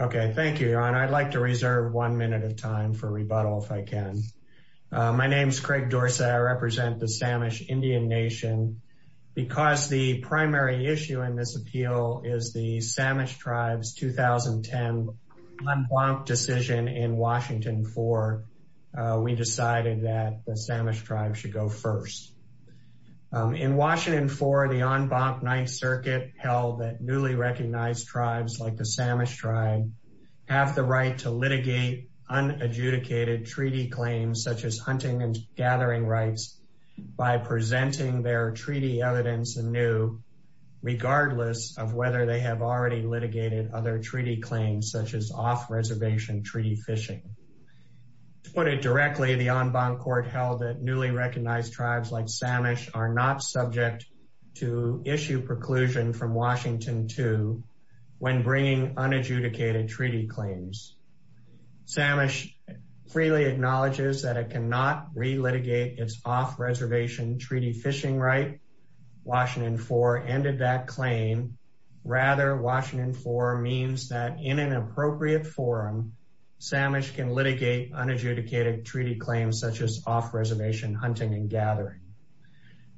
Okay, thank you, Your Honor. I'd like to reserve one minute of time for rebuttal, if I can. My name is Craig Dorsey. I represent the Samish Indian Nation. Because the primary issue in this appeal is the Samish Tribes 2010 En Blanc decision in Washington IV, we decided that the Samish Tribes should go first. In Washington IV, the En Blanc Ninth Circuit held that newly recognized tribes, like the Samish Tribe, have the right to litigate unadjudicated treaty claims, such as hunting and gathering rights, by presenting their treaty evidence anew, regardless of whether they have already litigated other treaty claims, such as off-reservation treaty fishing. To put it directly, the En Blanc Court held that newly recognized tribes, like Samish, are not subject to issue preclusion from Washington II when bringing unadjudicated treaty claims. Samish freely acknowledges that it cannot relitigate its off-reservation treaty fishing right. Washington IV ended that claim. Rather, Washington IV means that in an appropriate forum, Samish can litigate unadjudicated treaty claims, such as off-reservation hunting and gathering.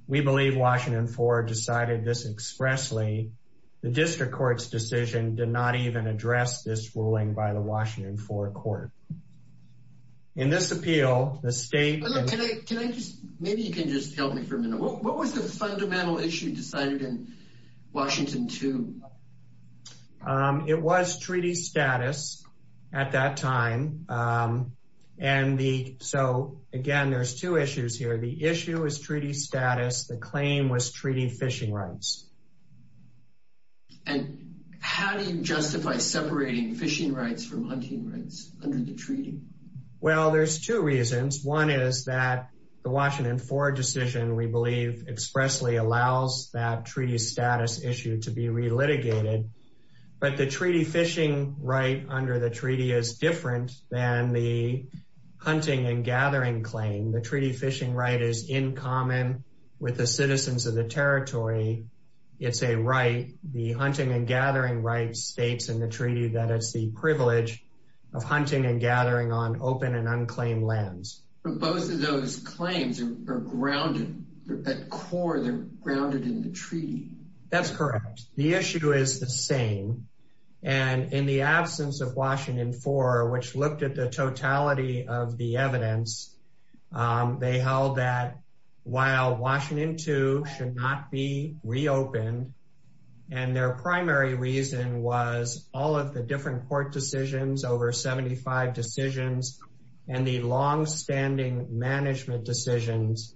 We believe Washington IV decided this expressly. The District Court's decision did not even address this ruling by the Washington IV Court. In this appeal, the state... Maybe you can just help me for a minute. What was the fundamental issue decided in Washington II? It was treaty status at that time. And so, again, there's two issues here. The issue is treaty status. The claim was treaty fishing rights. And how do you justify separating fishing rights from hunting rights under the treaty? Well, there's two reasons. One is that the Washington IV decision, we believe, expressly allows that treaty status issue to be relitigated. But the treaty fishing right under the treaty is different than the hunting and gathering claim. The treaty fishing right is in common with the citizens of the territory. It's a right. The hunting and gathering right states in the treaty that it's the privilege of hunting and gathering on open and unclaimed lands. Both of those claims are grounded. At core, they're grounded in the treaty. That's correct. The issue is the same. And in the absence of Washington IV, which looked at the totality of the evidence, they held that while Washington II should not be reopened, and their primary reason was all of the different court decisions, over 75 decisions, and the long-standing management decisions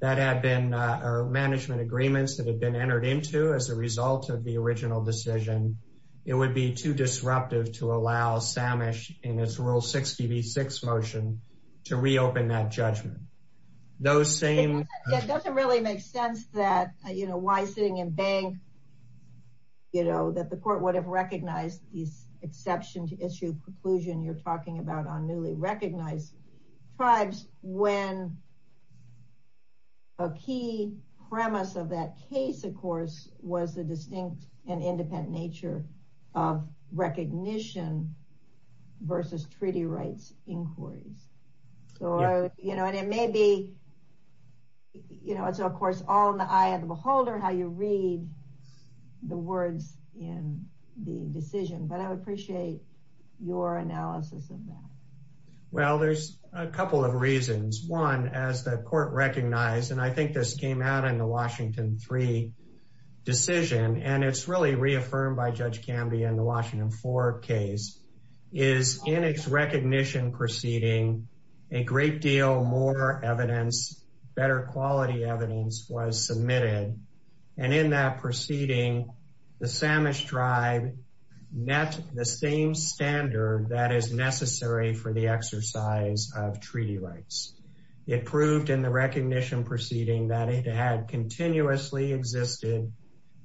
that had been, or management agreements that had been entered into as a result of the original decision, it would be too disruptive to allow Samish in its Rule 60b-6 motion to reopen that judgment. Those same- It doesn't really make sense that, you know, why sitting in bank, you know, that the court would have recognized these exception to issue conclusion you're talking about on newly recognized tribes when a key premise of that case, of course, was the distinct and independent nature of recognition versus treaty rights inquiries. So, you know, and it may be, you know, it's, of course, all in the eye of the beholder how you read the words in the decision, but I would appreciate your analysis of that. Well, there's a couple of reasons. One, as the court recognized, and I think this came out in the Washington III decision, and it's really reaffirmed by Judge Camby in the Washington IV case, is in its recognition proceeding, a great deal more evidence, better quality evidence was submitted. And in that proceeding, the Samish tribe met the same standard that is necessary for the exercise of treaty rights. It proved in the recognition proceeding that it had continuously existed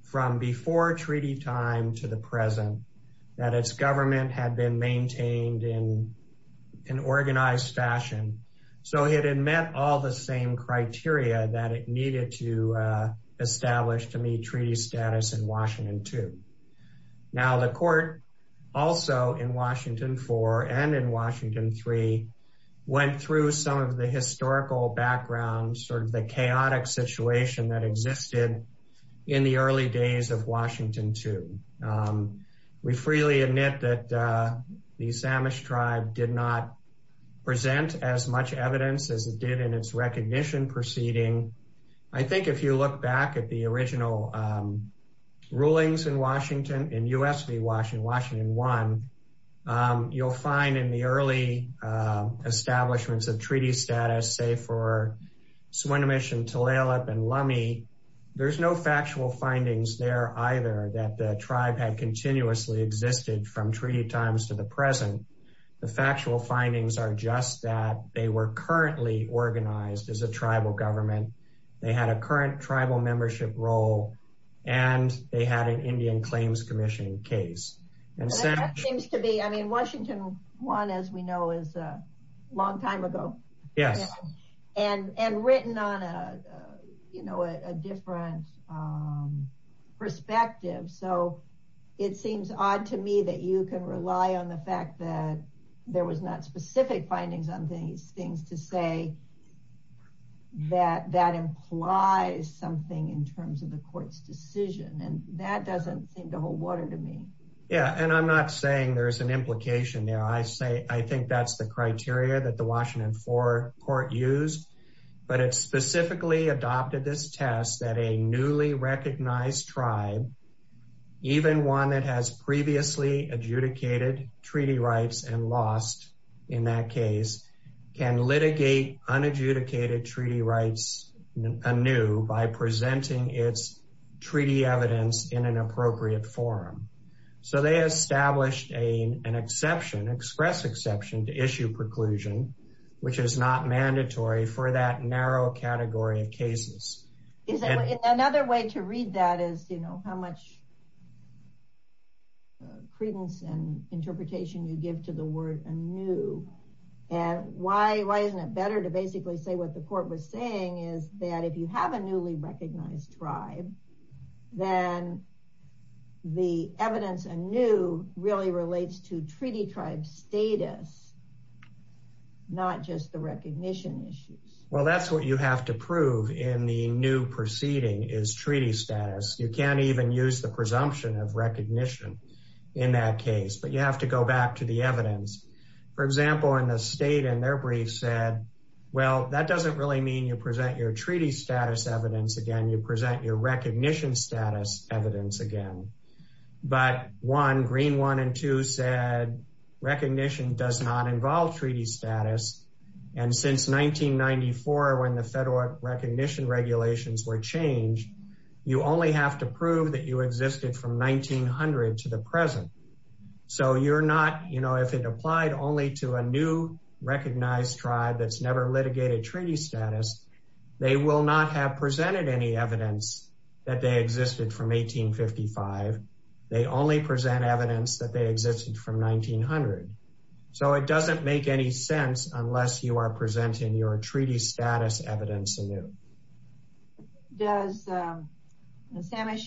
from before treaty time to the present, that its government had been maintained in organized fashion, so it had met all the same criteria that it needed to establish to meet treaty status in Washington II. Now, the court also in Washington IV and in Washington III went through some of the historical background, sort of the chaotic situation that existed in the early days of Washington II. We freely admit that the Samish tribe did not present as much evidence as it did in its recognition proceeding. I think if you look back at the original rulings in Washington, in U.S. v. Washington I, you'll find in the early establishments of treaty status, say for Swinomish and Tulalip and Lummi, there's no factual findings there either that the tribe had continuously existed from treaty times to the present. The factual findings are just that they were currently organized as a tribal government, they had a current tribal membership role, and they had an Indian Claims Commissioning long time ago. Yes. And written on a different perspective, so it seems odd to me that you can rely on the fact that there was not specific findings on these things to say that that implies something in terms of the court's decision, and that doesn't seem to hold water to me. Yeah, and I'm not saying there's an implication there. I think that's the criteria that the Washington IV Court used, but it specifically adopted this test that a newly recognized tribe, even one that has previously adjudicated treaty rights and lost in that case, can litigate unadjudicated treaty rights anew by presenting its treaty evidence in an appropriate forum. So they established an exception, express exception, to issue preclusion, which is not mandatory for that narrow category of cases. Another way to read that is, you know, how much credence and interpretation you give to the word anew, and why isn't it better to basically say what the court was saying is that if you have a newly recognized tribe, then the evidence anew really relates to treaty tribe status, not just the recognition issues. Well, that's what you have to prove in the new proceeding is treaty status. You can't even use the presumption of recognition in that case, but you have to go back to the evidence. For example, in the state in their brief said, well, that doesn't really mean you present your treaty status evidence again, you present your recognition status evidence again. But one, green one and two said, recognition does not involve treaty status. And since 1994, when the federal recognition regulations were changed, you only have to prove that you existed from 1900 to the present. So you're not, you know, if it applied only to a new recognized tribe that's never litigated treaty status, they will not have presented any evidence that they existed from 1855. They only present evidence that they existed from 1900. So it doesn't make any sense unless you are presenting your treaty status evidence anew. Does the Samish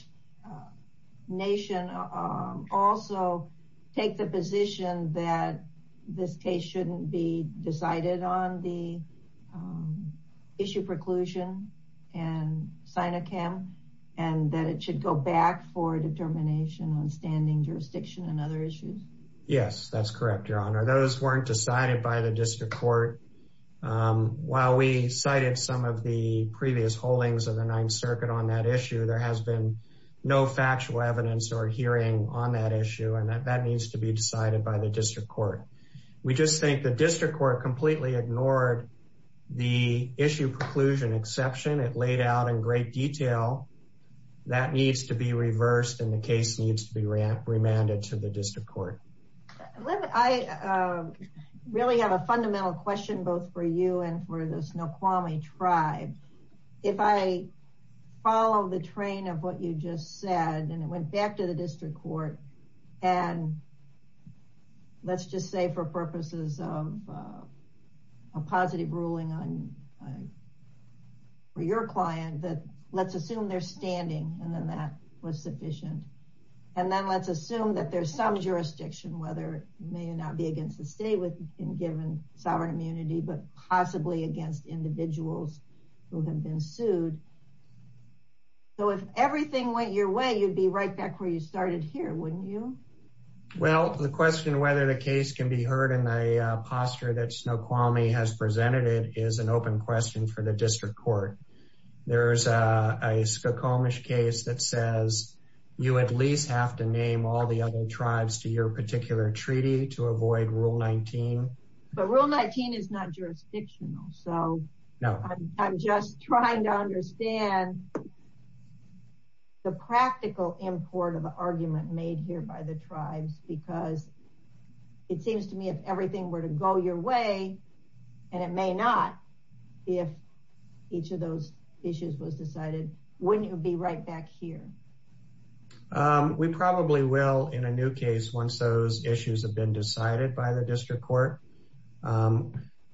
Nation also take the position that this case shouldn't be decided on the issue preclusion and Sinochem and that it should go back for determination on standing jurisdiction and other issues? Yes, that's correct, Your Honor. Those weren't decided by the district court. While we cited some of the previous holdings of the Ninth Circuit on that issue, there has been no factual evidence or hearing on that issue and that that needs to be decided by the district court. We just think the district court completely ignored the issue preclusion exception. It laid out in great detail that needs to be reversed and the case needs to be remanded to the district court. I really have a fundamental question both for you and for the Snoqualmie tribe. If I follow the train of what you just said and it went back to the district court and let's just say for purposes of a positive ruling on for your client that let's assume they're standing and then that was sufficient and then let's assume that there's some jurisdiction whether it may not be against the state within given sovereign immunity but possibly against individuals who have been sued. So if everything went your way you'd be right back where you started here wouldn't you? Well the question whether the case can be heard in a posture that Snoqualmie has presented it is an open question for the district court. There's a Skokomish case that says you at least have to name all the other tribes to your particular treaty to avoid Rule 19. But Rule 19 is not jurisdictional so I'm just trying to understand the practical import of the argument made here by the tribes because it seems to me if everything were to go your way and it may not if each of those issues was decided wouldn't you be right back here? We probably will in a new case once those issues have been decided by the district court. You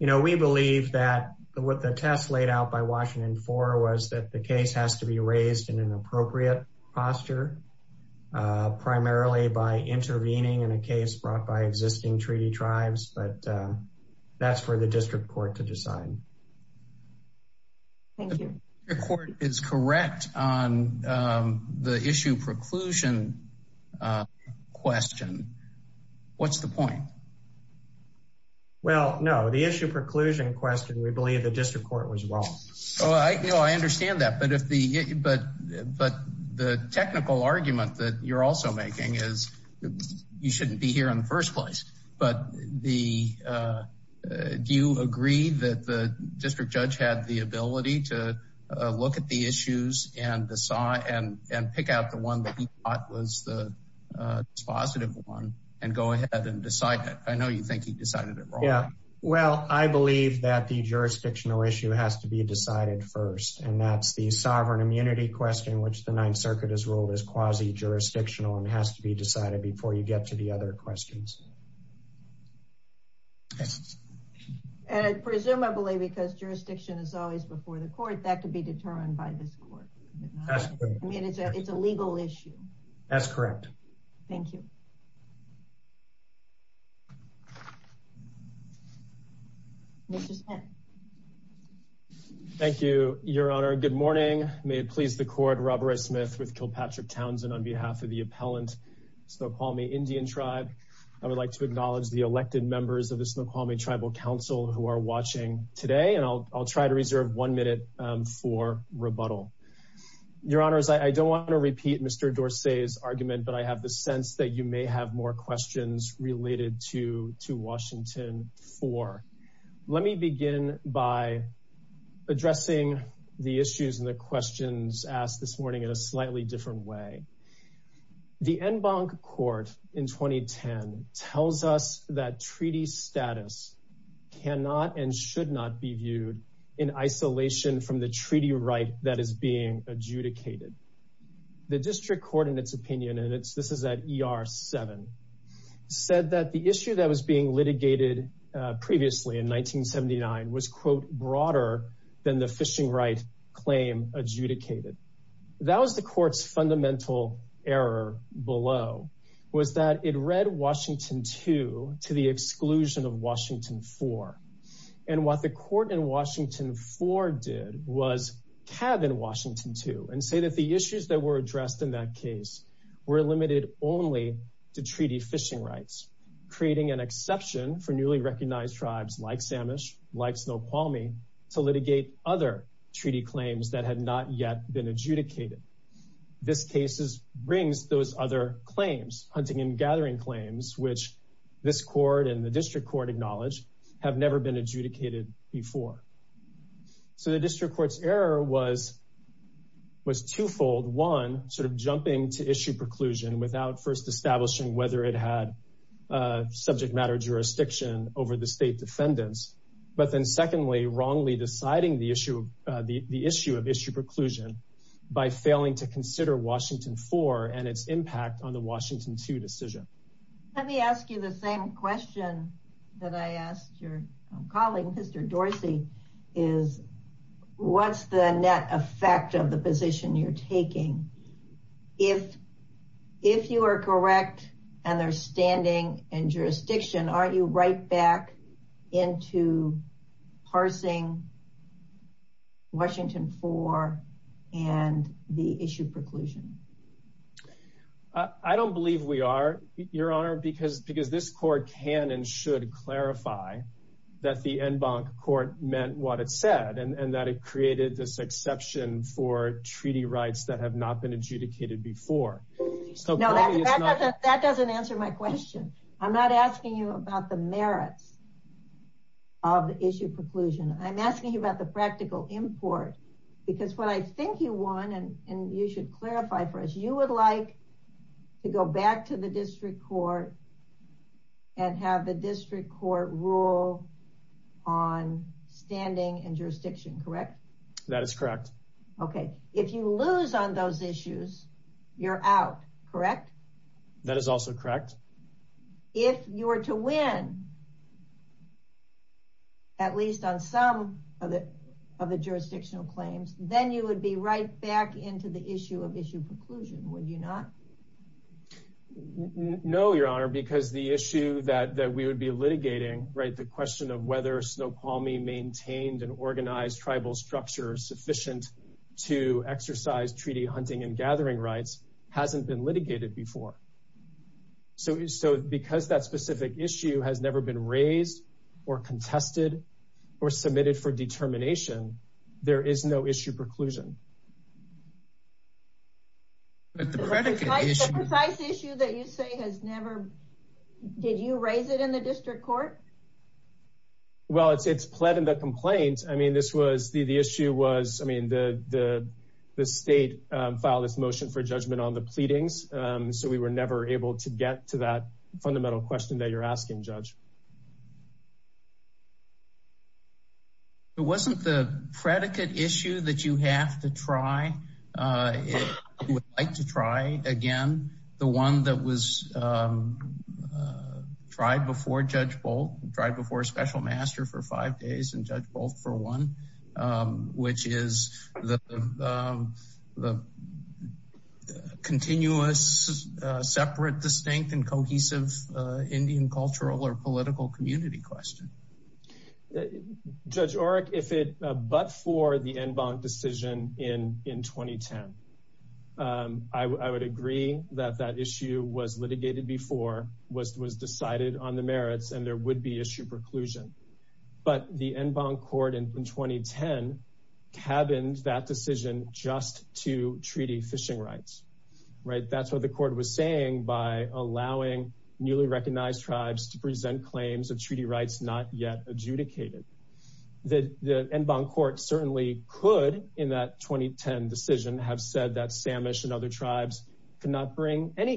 know we believe that what the test laid out by Washington 4 was that the case has to be raised in an appropriate posture primarily by intervening in a case brought by existing treaty tribes but that's for the district court to decide. The court is correct on the issue preclusion question. What's the point? Well no the issue preclusion question we believe the district court was wrong. Oh I know I understand that but if the but but the technical argument that you're also making is you shouldn't be here in the first place but the do you agree that the district judge had the ability to look at the issues and decide and and pick out the one that he thought was the positive one and go ahead and decide that. I know you think he decided it wrong. Yeah well I believe that the jurisdictional issue has to be decided first and that's the sovereign immunity question which the ninth circuit has ruled as quasi-jurisdictional and has to be decided before you get to the other questions. And presumably because jurisdiction is always before the court that could be determined by this court. I mean it's a legal issue. That's correct. Thank you. Mr. Smith. Thank you your honor. Good morning. May it please the court Robert Smith with Kilpatrick Townsend on behalf of the appellant Snoqualmie Indian tribe. I would like to acknowledge the elected members of the Snoqualmie tribal council who are watching today and I'll try to reserve one minute for rebuttal. Your honors I don't want to repeat Mr. Dorsey's argument but I have the sense that you may have more questions related to to Washington 4. Let me begin by addressing the issues and the questions asked this morning in a slightly different way. The en banc court in 2010 tells us that treaty status cannot and should not be viewed in isolation from the treaty right that is being adjudicated. The district court in its opinion and it's this is at er7 said that the issue that was being litigated previously in 1979 was quote broader than the fishing right claim adjudicated. That was the court's fundamental error below was that it read Washington 2 to the exclusion of Washington 4 and what the court in Washington 4 did was cabin Washington 2 and say that the issues that were addressed in that case were limited only to treaty fishing rights creating an exception for newly recognized tribes like Samish like Snoqualmie to litigate other treaty claims that had not yet been adjudicated. This case brings those other claims hunting and gathering claims which this court and the district court acknowledge have never been adjudicated before. So the district court's error was twofold. One sort of jumping to issue preclusion without first establishing whether it had subject matter jurisdiction over the state defendants but then secondly wrongly deciding the issue of the issue of issue preclusion by failing to consider Washington 4 and its impact on the Washington 2 decision. Let me ask you the same question that I asked your colleague Mr. Dorsey is what's the net effect of the position you're taking if if you are correct and they're standing in jurisdiction aren't you right back into parsing Washington 4 and the issue preclusion? I don't believe we are your honor because because this court can and should clarify that the en banc court meant what it said and that it created this exception for treaty rights that have not been adjudicated before. No that doesn't answer my question. I'm not asking you about the merits of the issue preclusion. I'm asking you about the practical import because what I think you want and and you should clarify for us you would like to go back to the district court and have the district court rule on standing and jurisdiction correct? That is correct. Okay if you lose on those issues you're out correct? That is also correct. If you were to win at least on some of the of the jurisdictional claims then you would be right back into the issue of issue preclusion would you not? No your honor because the issue that that we would be litigating right the question of whether Snoqualmie maintained an organized tribal structure sufficient to exercise treaty hunting and gathering rights hasn't been litigated before. So so because that specific issue has never been raised or contested or submitted for determination there is no issue preclusion. But the predicate issue that you say has never did you raise it in the district court? Well it's it's pled in the complaint I mean this was the the issue was I mean the the the state filed this motion for judgment on the pleadings so we were never able to get to that fundamental question that you're asking judge. It wasn't the predicate issue that you have to try it would like to try again the one that was tried before judge Bolt tried before special master for five days and judge Bolt for one which is the the continuous separate distinct and cohesive Indian cultural or political community question. Judge Oreck if it but for the en banc decision in in 2010 I would agree that that issue was litigated before was was decided on the merits and there would be issue preclusion. But the en banc court in 2010 cabins that decision just to treaty fishing rights right that's what the court was saying by allowing newly recognized tribes to present claims of treaty rights not yet adjudicated. The the en banc court certainly could in that 2010 decision have said that Samish and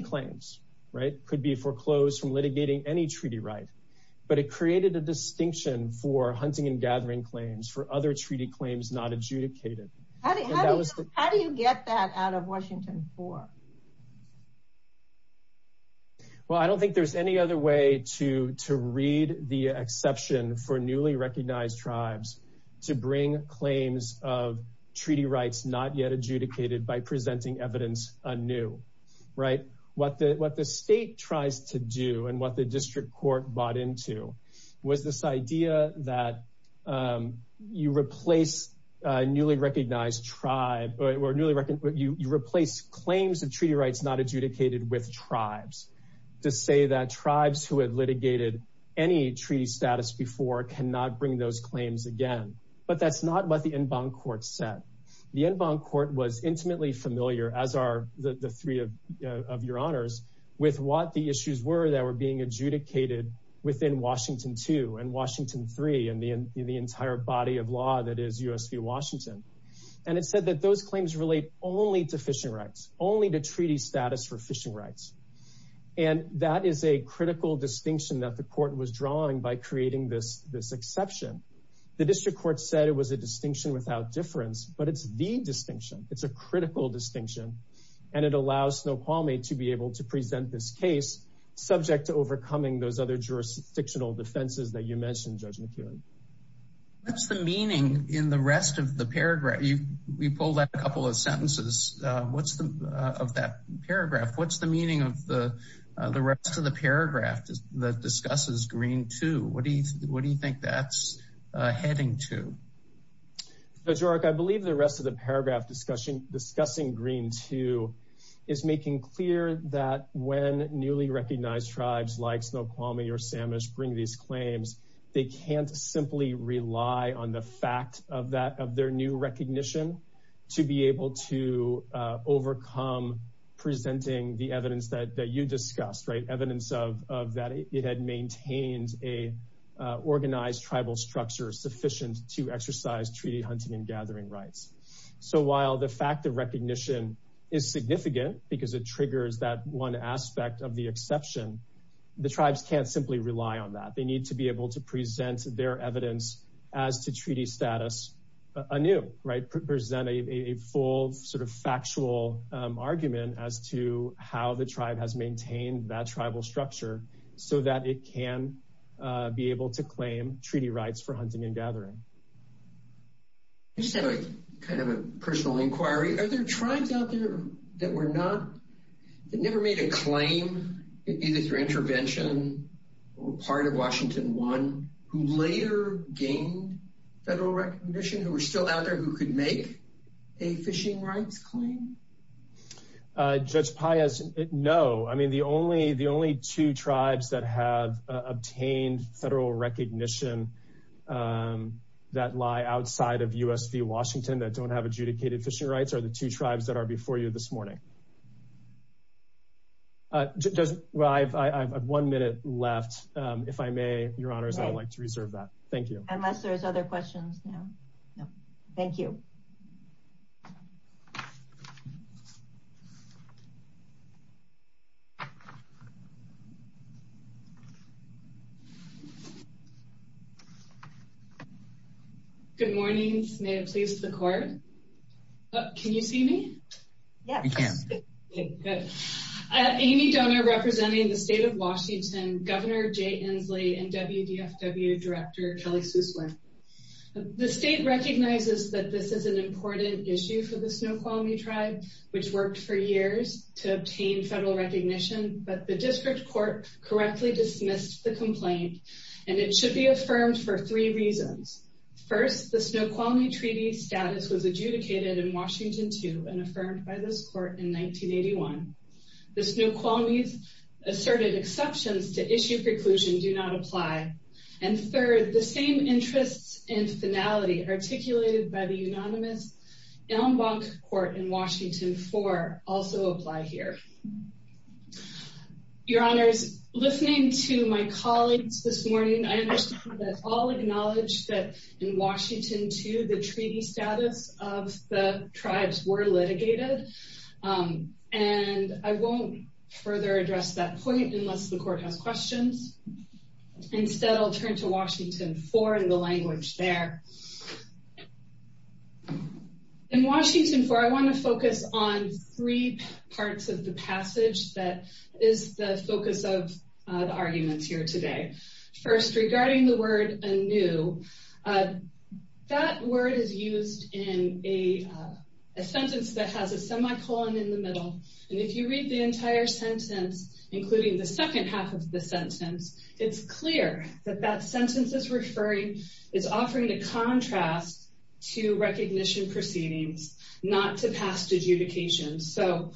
claims right could be foreclosed from litigating any treaty right but it created a distinction for hunting and gathering claims for other treaty claims not adjudicated. How do you get that out of Washington for? Well I don't think there's any other way to to read the exception for newly recognized tribes to bring claims of treaty rights not yet adjudicated by presenting evidence a new right what the what the state tries to do and what the district court bought into was this idea that you replace newly recognized tribe or newly recognized you you replace claims of treaty rights not adjudicated with tribes to say that tribes who had litigated any treaty status before cannot bring those claims again. But that's not what the en banc court said. The en banc court was intimately familiar as are the three of your honors with what the issues were that were being adjudicated within Washington 2 and Washington 3 and the in the entire body of law that is US v Washington. And it said that those claims relate only to fishing rights only to treaty status for fishing rights. And that is a critical distinction that the court was drawing by creating this this exception. The district court said it was a distinction without difference but it's the distinction it's a critical distinction and it allows Snoqualmie to be able to present this case subject to overcoming those other jurisdictional defenses that you mentioned Judge McKeely. What's the meaning in the rest of the paragraph you we pulled up a couple of sentences uh what's the of that paragraph what's the meaning of the the rest of the paragraph that discusses green two what do you what do you think that's heading to? Judge Rourke I believe the rest of the paragraph discussion discussing green two is making clear that when newly recognized tribes like Snoqualmie or Samish bring these claims they can't simply rely on the fact of that of their new recognition to be able to evidence of of that it had maintained a organized tribal structure sufficient to exercise treaty hunting and gathering rights. So while the fact of recognition is significant because it triggers that one aspect of the exception the tribes can't simply rely on that they need to be able to present their evidence as to treaty status anew right present a full sort of factual argument as to how the tribe has maintained that tribal structure so that it can be able to claim treaty rights for hunting and gathering. You said like kind of a personal inquiry are there tribes out there that were not that never made a claim either through intervention or part of Washington one who later gained federal recognition who were still out there who could make a fishing rights claim? Judge Paius no I mean the only the only two tribes that have obtained federal recognition that lie outside of U.S. v. Washington that don't have adjudicated fishing rights are the two tribes that are before you this morning. Does well I've I've one minute left if I may your honors I'd like to reserve that thank you unless there's other questions now no thank you. Good morning may it please the court can you see me yes we can okay good I have Amy Donor representing the state of Washington Governor Jay Inslee and WDFW Director Kelly Sussman. The state recognizes that this is an important issue for the Snoqualmie tribe which worked for years to obtain federal recognition but the district court correctly dismissed the complaint and it should be affirmed for three reasons first the Snoqualmie treaty status was adjudicated in asserted exceptions to issue preclusion do not apply and third the same interests and finality articulated by the unanimous elm bunk court in Washington for also apply here. Your honors listening to my colleagues this morning I understand that all acknowledge that in Washington to the treaty status of the tribes were litigated and I won't further address that point unless the court has questions instead I'll turn to Washington for the language there. In Washington for I want to focus on three parts of the passage that is the focus of the arguments here today first regarding the word anew that word is used in a sentence that has a including the second half of the sentence it's clear that that sentence is referring it's offering a contrast to recognition proceedings not to past adjudications so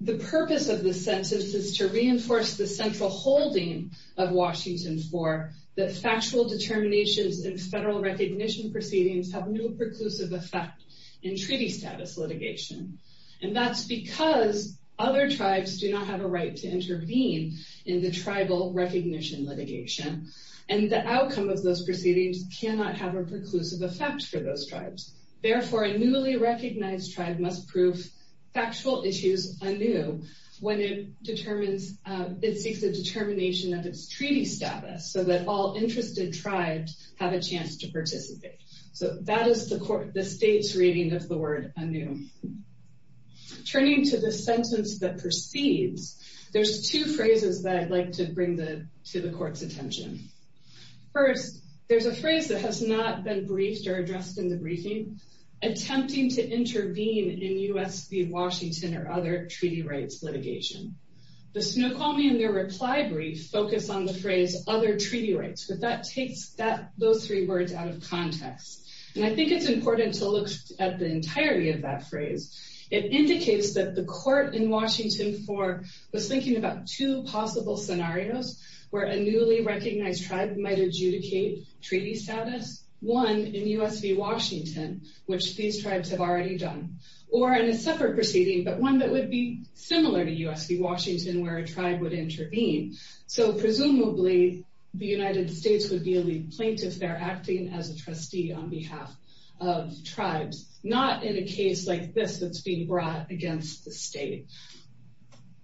the purpose of the sentence is to reinforce the central holding of Washington for the factual determinations in federal recognition proceedings have no preclusive effect in treaty status and that's because other tribes do not have a right to intervene in the tribal recognition litigation and the outcome of those proceedings cannot have a preclusive effect for those tribes therefore a newly recognized tribe must prove factual issues anew when it determines it seeks a determination of its treaty status so that all interested tribes have a chance to participate so that is the court the state's reading of the word anew turning to the sentence that perceives there's two phrases that I'd like to bring the to the court's attention first there's a phrase that has not been briefed or addressed in the briefing attempting to intervene in U.S. v. Washington or other treaty rights litigation the Snoqualmie and their reply brief focus on the phrase other treaty rights but that takes that those three words out of context and I think it's important to look at the entirety of that phrase it indicates that the court in Washington for was thinking about two possible scenarios where a newly recognized tribe might adjudicate treaty status one in U.S. v. Washington which these tribes have already done or in a separate proceeding but one that would be similar to U.S. v. Washington where a tribe would intervene so presumably the United States would be a lead plaintiff they're acting as a trustee on behalf of tribes not in a case like this that's being brought against the state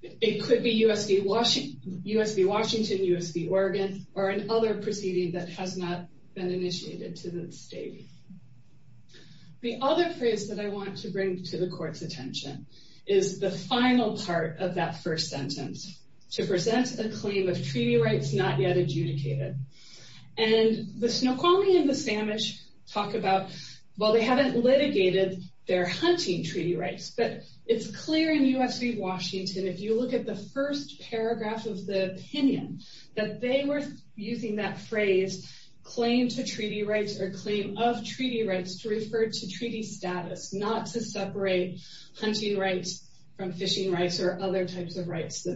it could be U.S. v. Washington U.S. v. Oregon or another proceeding that has not been initiated to the state the other phrase that I want to bring to the court's attention is the final part of that first sentence to present a claim of treaty rights not yet adjudicated and the Snoqualmie and the Samish talk about well they haven't litigated their hunting treaty rights but it's clear in U.S. v. Washington if you look at the first paragraph of the opinion that they were using that phrase claim to treaty rights or claim of treaty rights to refer to treaty status not to rights that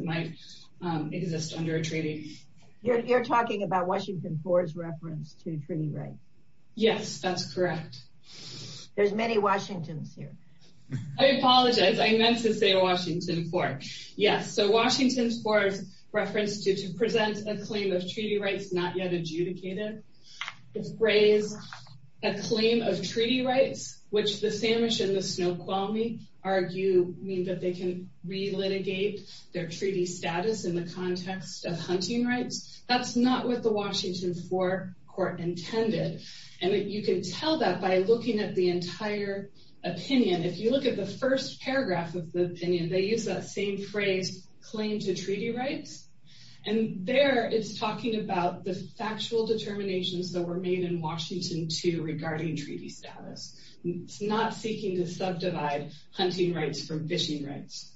might exist under a treaty you're talking about Washington v. Oregon's reference to treaty rights yes that's correct there's many Washingtons here I apologize I meant to say Washington v. Oregon yes so Washington v. Oregon's reference to to present a claim of treaty rights not yet adjudicated it's raised a claim of treaty rights which the Samish and the Snoqualmie argue mean that they can re-litigate their treaty status in the context of hunting rights that's not what the Washington IV court intended and you can tell that by looking at the entire opinion if you look at the first paragraph of the opinion they use that same phrase claim to treaty rights and there it's talking about the factual determinations that were made in Washington II regarding treaty status it's not seeking to subdivide hunting rights from fishing rights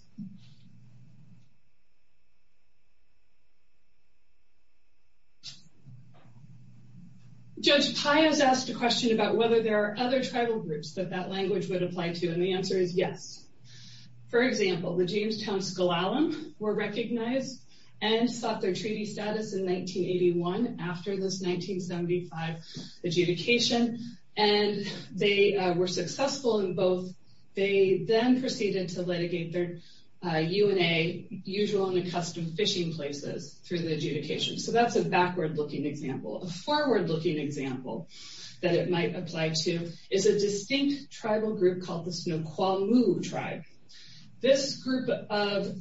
Judge Pios asked a question about whether there are other tribal groups that that language would apply to and the answer is yes for example the Jamestown Skullallam were recognized and sought their treaty status in 1981 after this 1975 adjudication and they were successful in both they then proceeded to litigate their UNA usual and accustomed fishing places through the adjudication so that's a backward looking example a forward looking example that it might apply to is a distinct tribal group called the Snoqualmie tribe this group of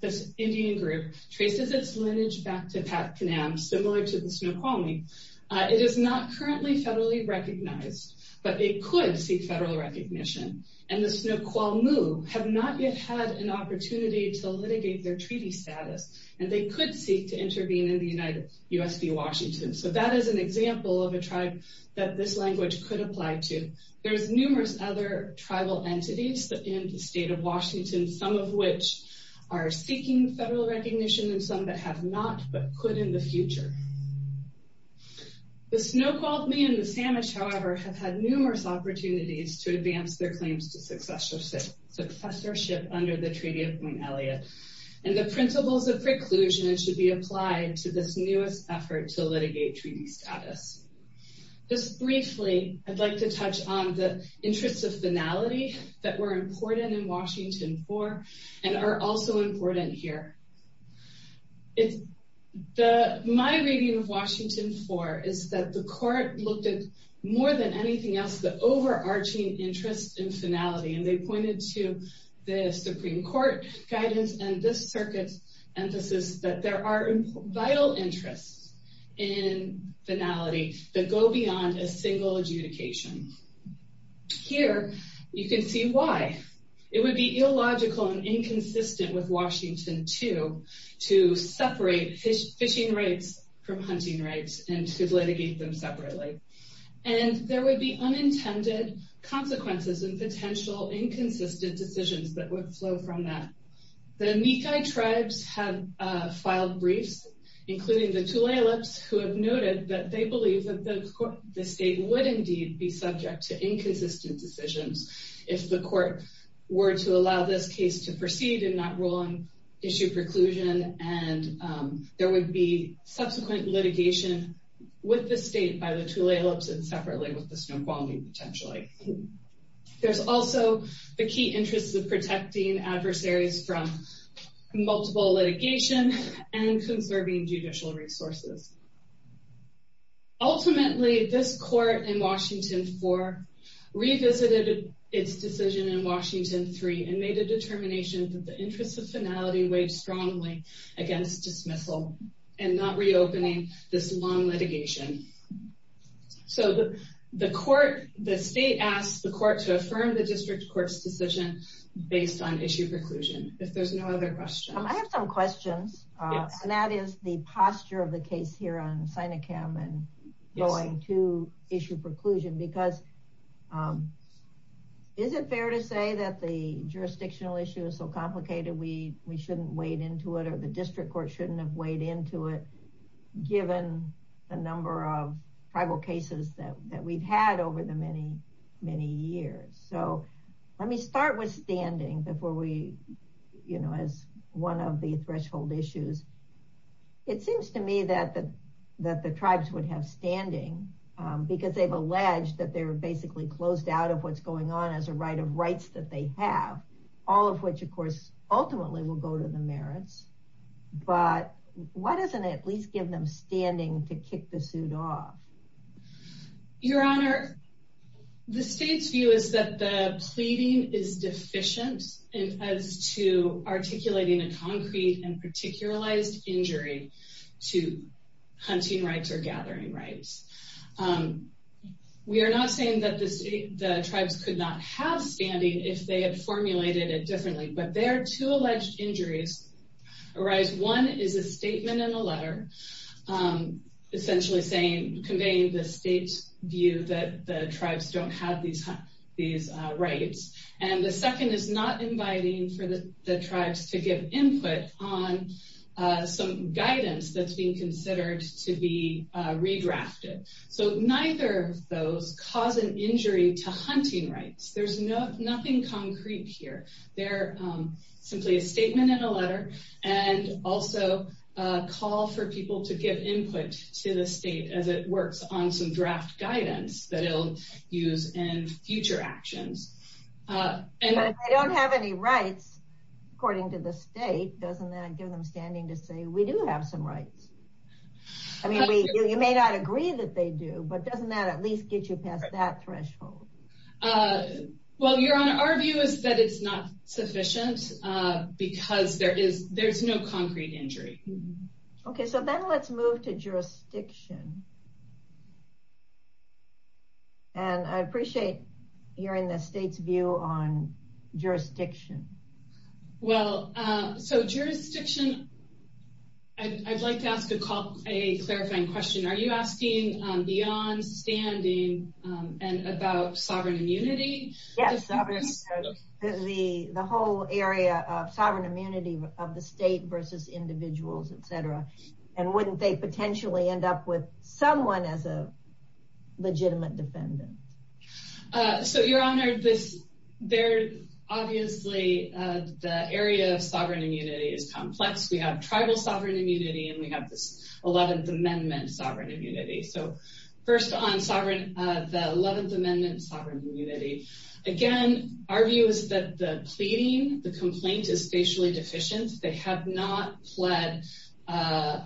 this Indian group traces its lineage back to Pat Panam similar to the Snoqualmie it is not currently federally recognized but it could seek federal recognition and the Snoqualmie have not yet had an opportunity to litigate their treaty status and they could seek to intervene in the United U.S.V. Washington so that is an example of a tribe that this language could apply to there's numerous other tribal entities that in the state of Washington some of which are seeking federal recognition and some that have not but could in the future the Snoqualmie and the Samish however have had numerous opportunities to advance their claims to successorship successorship under the Treaty of Point Elliot and the principles of preclusion should be applied to this newest effort to litigate treaty status just briefly I'd like to touch on the interests of finality that were important in Washington IV and are also important here it's the my reading of Washington IV is that the court looked at more than anything else the overarching interest in finality and they pointed to the Supreme Court guidance and this circuit's emphasis that there are vital interests in finality that go beyond a single adjudication here you can see why it would be illogical and inconsistent with Washington II to separate fishing rights from hunting rights and to that would flow from that the Mi'kai tribes have filed briefs including the Tulalips who have noted that they believe that the state would indeed be subject to inconsistent decisions if the court were to allow this case to proceed and not rule on issue preclusion and there would be subsequent litigation with the state by the Tulalips and separately with the Snoqualmie potentially there's also the key interests of protecting adversaries from multiple litigation and conserving judicial resources ultimately this court in Washington IV revisited its decision in Washington III and made a determination that the interest of finality weighed strongly against dismissal and not reopening this long litigation so the court the state asked the court to affirm the district court's decision based on issue preclusion if there's no other question. I have some questions and that is the posture of the case here on SINICAM and going to issue preclusion because is it fair to say that the jurisdictional issue is so complicated we shouldn't wade into it or the district court shouldn't have weighed into it given the number of tribal cases that we've had over the many many years so let me start with standing before we you know as one of the threshold issues it seems to me that that the tribes would have standing because they've alleged that they're basically closed out of what's going on as a right of rights that they have all of which of course ultimately will go to the merits but why doesn't it at least give them standing to kick the suit off? Your honor the state's view is that the pleading is deficient as to articulating a concrete and particularized injury to hunting rights or gathering rights. We are not saying that the tribes could not have standing if they had formulated it differently but there are two alleged injuries arise one is a statement in a letter essentially saying conveying the state's view that the tribes don't have these these rights and the second is not inviting for the tribes to give input on some guidance that's considered to be redrafted so neither of those cause an injury to hunting rights there's no nothing concrete here they're simply a statement in a letter and also a call for people to give input to the state as it works on some draft guidance that it'll use in future actions and I don't have any rights according to the state doesn't that give them standing to say we do have some rights I mean you may not agree that they do but doesn't that at least get you past that threshold? Well your honor our view is that it's not sufficient because there is there's no concrete injury. Okay so then let's move to jurisdiction and I appreciate hearing the state's view on jurisdiction. Well so jurisdiction I'd like to ask a clarifying question are you asking beyond standing and about sovereign immunity? Yes the whole area of sovereign immunity of the state versus individuals etc and wouldn't they potentially end up with someone as a legitimate defendant? So your honor this they're obviously the area of sovereign immunity is complex we have tribal sovereign immunity and we have this 11th amendment sovereign immunity so first on sovereign the 11th amendment sovereign immunity again our view is that the pleading the complaint is spatially deficient they have not pled a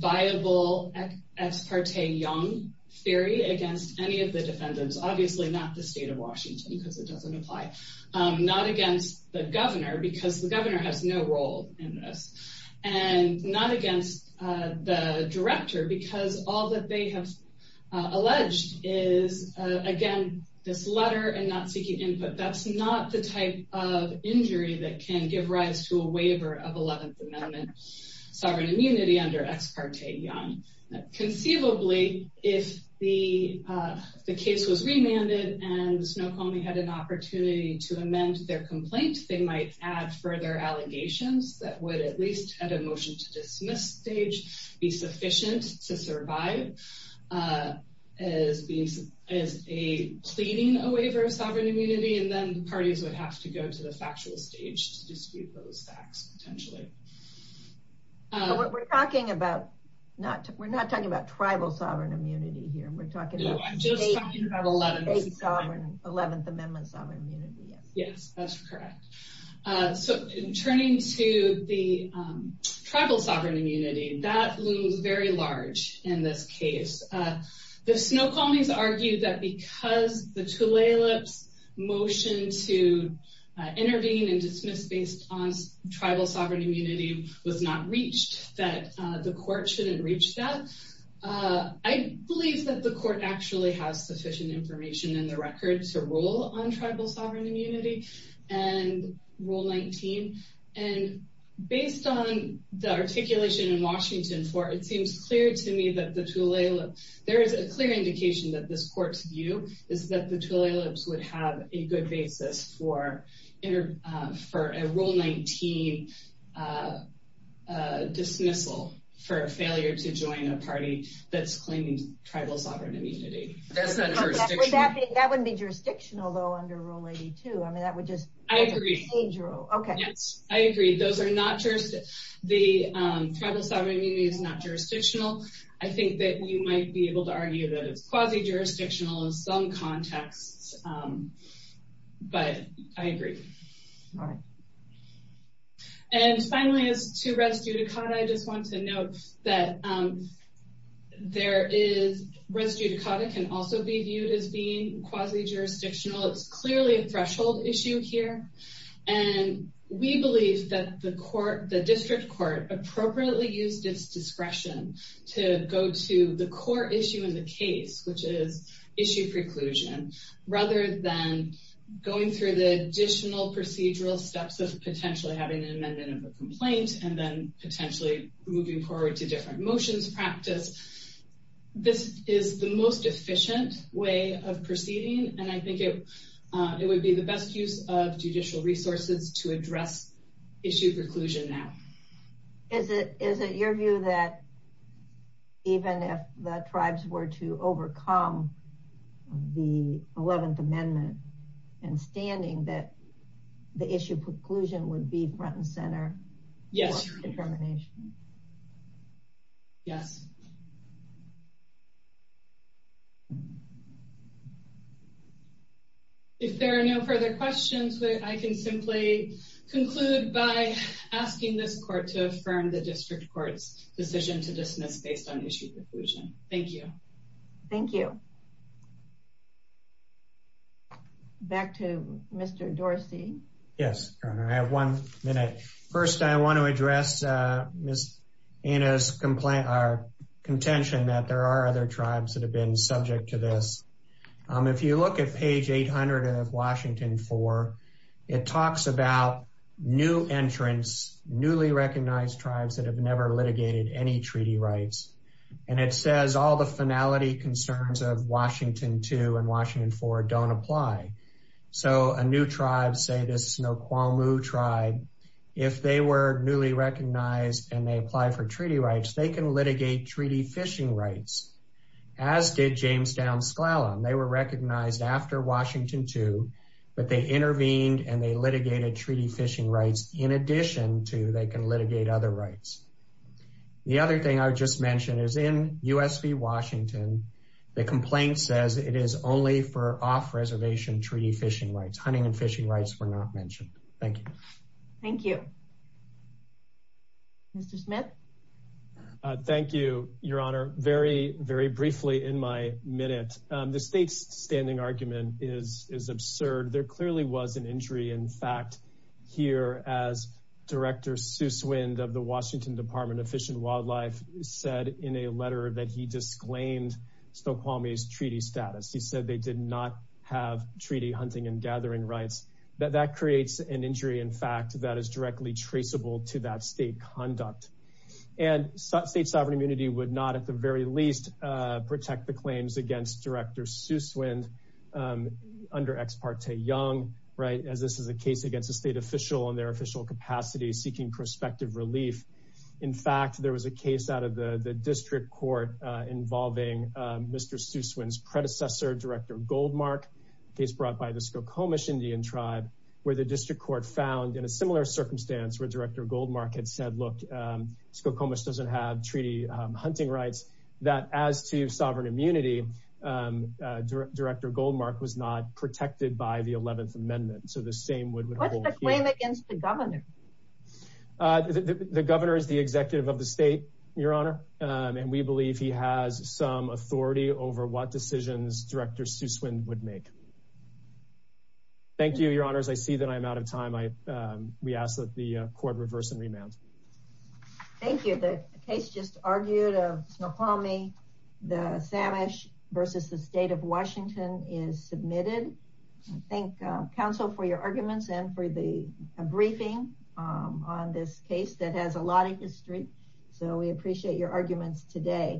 viable ex parte young theory against any of the defendants obviously not the state of Washington because it doesn't apply not against the governor because the governor has no role in this and not against the director because all that they have alleged is again this letter and not seeking input that's not the type of injury that can give rise to a waiver of 11th amendment sovereign immunity under ex parte young conceivably if the case was remanded and Snoqualmie had an opportunity to amend their complaint they might add further allegations that would at least at a motion to dismiss stage be sufficient to survive as being as a pleading a waiver of sovereign immunity and then parties would have to go to the factual stage to dispute those facts potentially we're talking about not we're not talking about tribal sovereign immunity here we're talking about just talking about 11th sovereign 11th amendment sovereign immunity yes yes that's correct uh so turning to the um tribal sovereign immunity that looms very large in this case uh the Snoqualmie's argued that because the Tulalip's motion to intervene and tribal sovereign immunity was not reached that the court shouldn't reach that uh i believe that the court actually has sufficient information in the record to rule on tribal sovereign immunity and rule 19 and based on the articulation in Washington for it seems clear to me that the Tulalip there is a clear indication that this court's view is that the Tulalips would have a basis for inter uh for a rule 19 uh uh dismissal for a failure to join a party that's claiming tribal sovereign immunity that's not that would be jurisdictional though under rule 82 i mean that would just i agree okay yes i agree those are not just the um tribal sovereign immunity is not jurisdictional i think that you might be able to argue that it's quasi-jurisdictional in some contexts um but i agree all right and finally as to res judicata i just want to note that um there is res judicata can also be viewed as being quasi-jurisdictional it's clearly a threshold issue here and we believe that the court the district court appropriately used its discretion to go to the core issue in the case which is issue preclusion rather than going through the additional procedural steps of potentially having an amendment of a complaint and then potentially moving forward to different motions practice this is the most efficient way of proceeding and i think it uh it would be the best use of judicial resources to address issue preclusion now is it is it your view that even if the tribes were to overcome the 11th amendment and standing that the issue preclusion would be front and center yes determination yes yes if there are no further questions i can simply conclude by asking this court to affirm the district court's decision to dismiss based on issue preclusion thank you thank you back to mr dorsey yes i have one minute first i want to address uh miss anna's complaint our contention that there are other tribes that have been subject to this um if you look at page 800 of washington 4 it talks about new entrants newly recognized tribes that have never litigated any treaty rights and it says all the finality concerns of washington 2 and washington 4 don't apply so a new tribe say this is no quamu tribe if they were newly recognized and they apply for treaty rights they can litigate treaty fishing rights as did james down scala they were recognized after washington 2 but they intervened and they litigated treaty fishing rights in addition to they can litigate other rights the other thing i just mentioned is in usv washington the complaint says it is only for off reservation treaty fishing rights hunting and fishing rights were not mentioned thank you thank you mr smith uh thank you your honor very very briefly in my minute um the state's standing argument is is absurd there clearly was an injury in fact here as director suess wind of the washington department of fish and wildlife said in a letter that he disclaimed stoke palmy's treaty status he said they did not have treaty hunting and gathering rights that that creates an injury in fact that is directly traceable to that state conduct and state sovereign immunity would not at the very least uh protect the claims against director suess wind um under ex parte young right as this is a case against a state official on their official capacity seeking prospective relief in fact there was a case out of the the district court uh involving uh mr suess wind's predecessor director goldmark case brought by the skokomish indian tribe where the district court found in a similar circumstance where director goldmark had said look um skokomish doesn't have treaty hunting rights that as to sovereign immunity um director goldmark was not protected by the 11th amendment so the same would hold against the governor uh the governor is the executive of the state your honor um and we believe he has some authority over what decisions director would make thank you your honors i see that i'm out of time i um we ask that the court reverse and remand thank you the case just argued of snow palmy the samish versus the state of washington is submitted i thank council for your arguments and for the briefing um on this case that has a lot of history so we appreciate your arguments today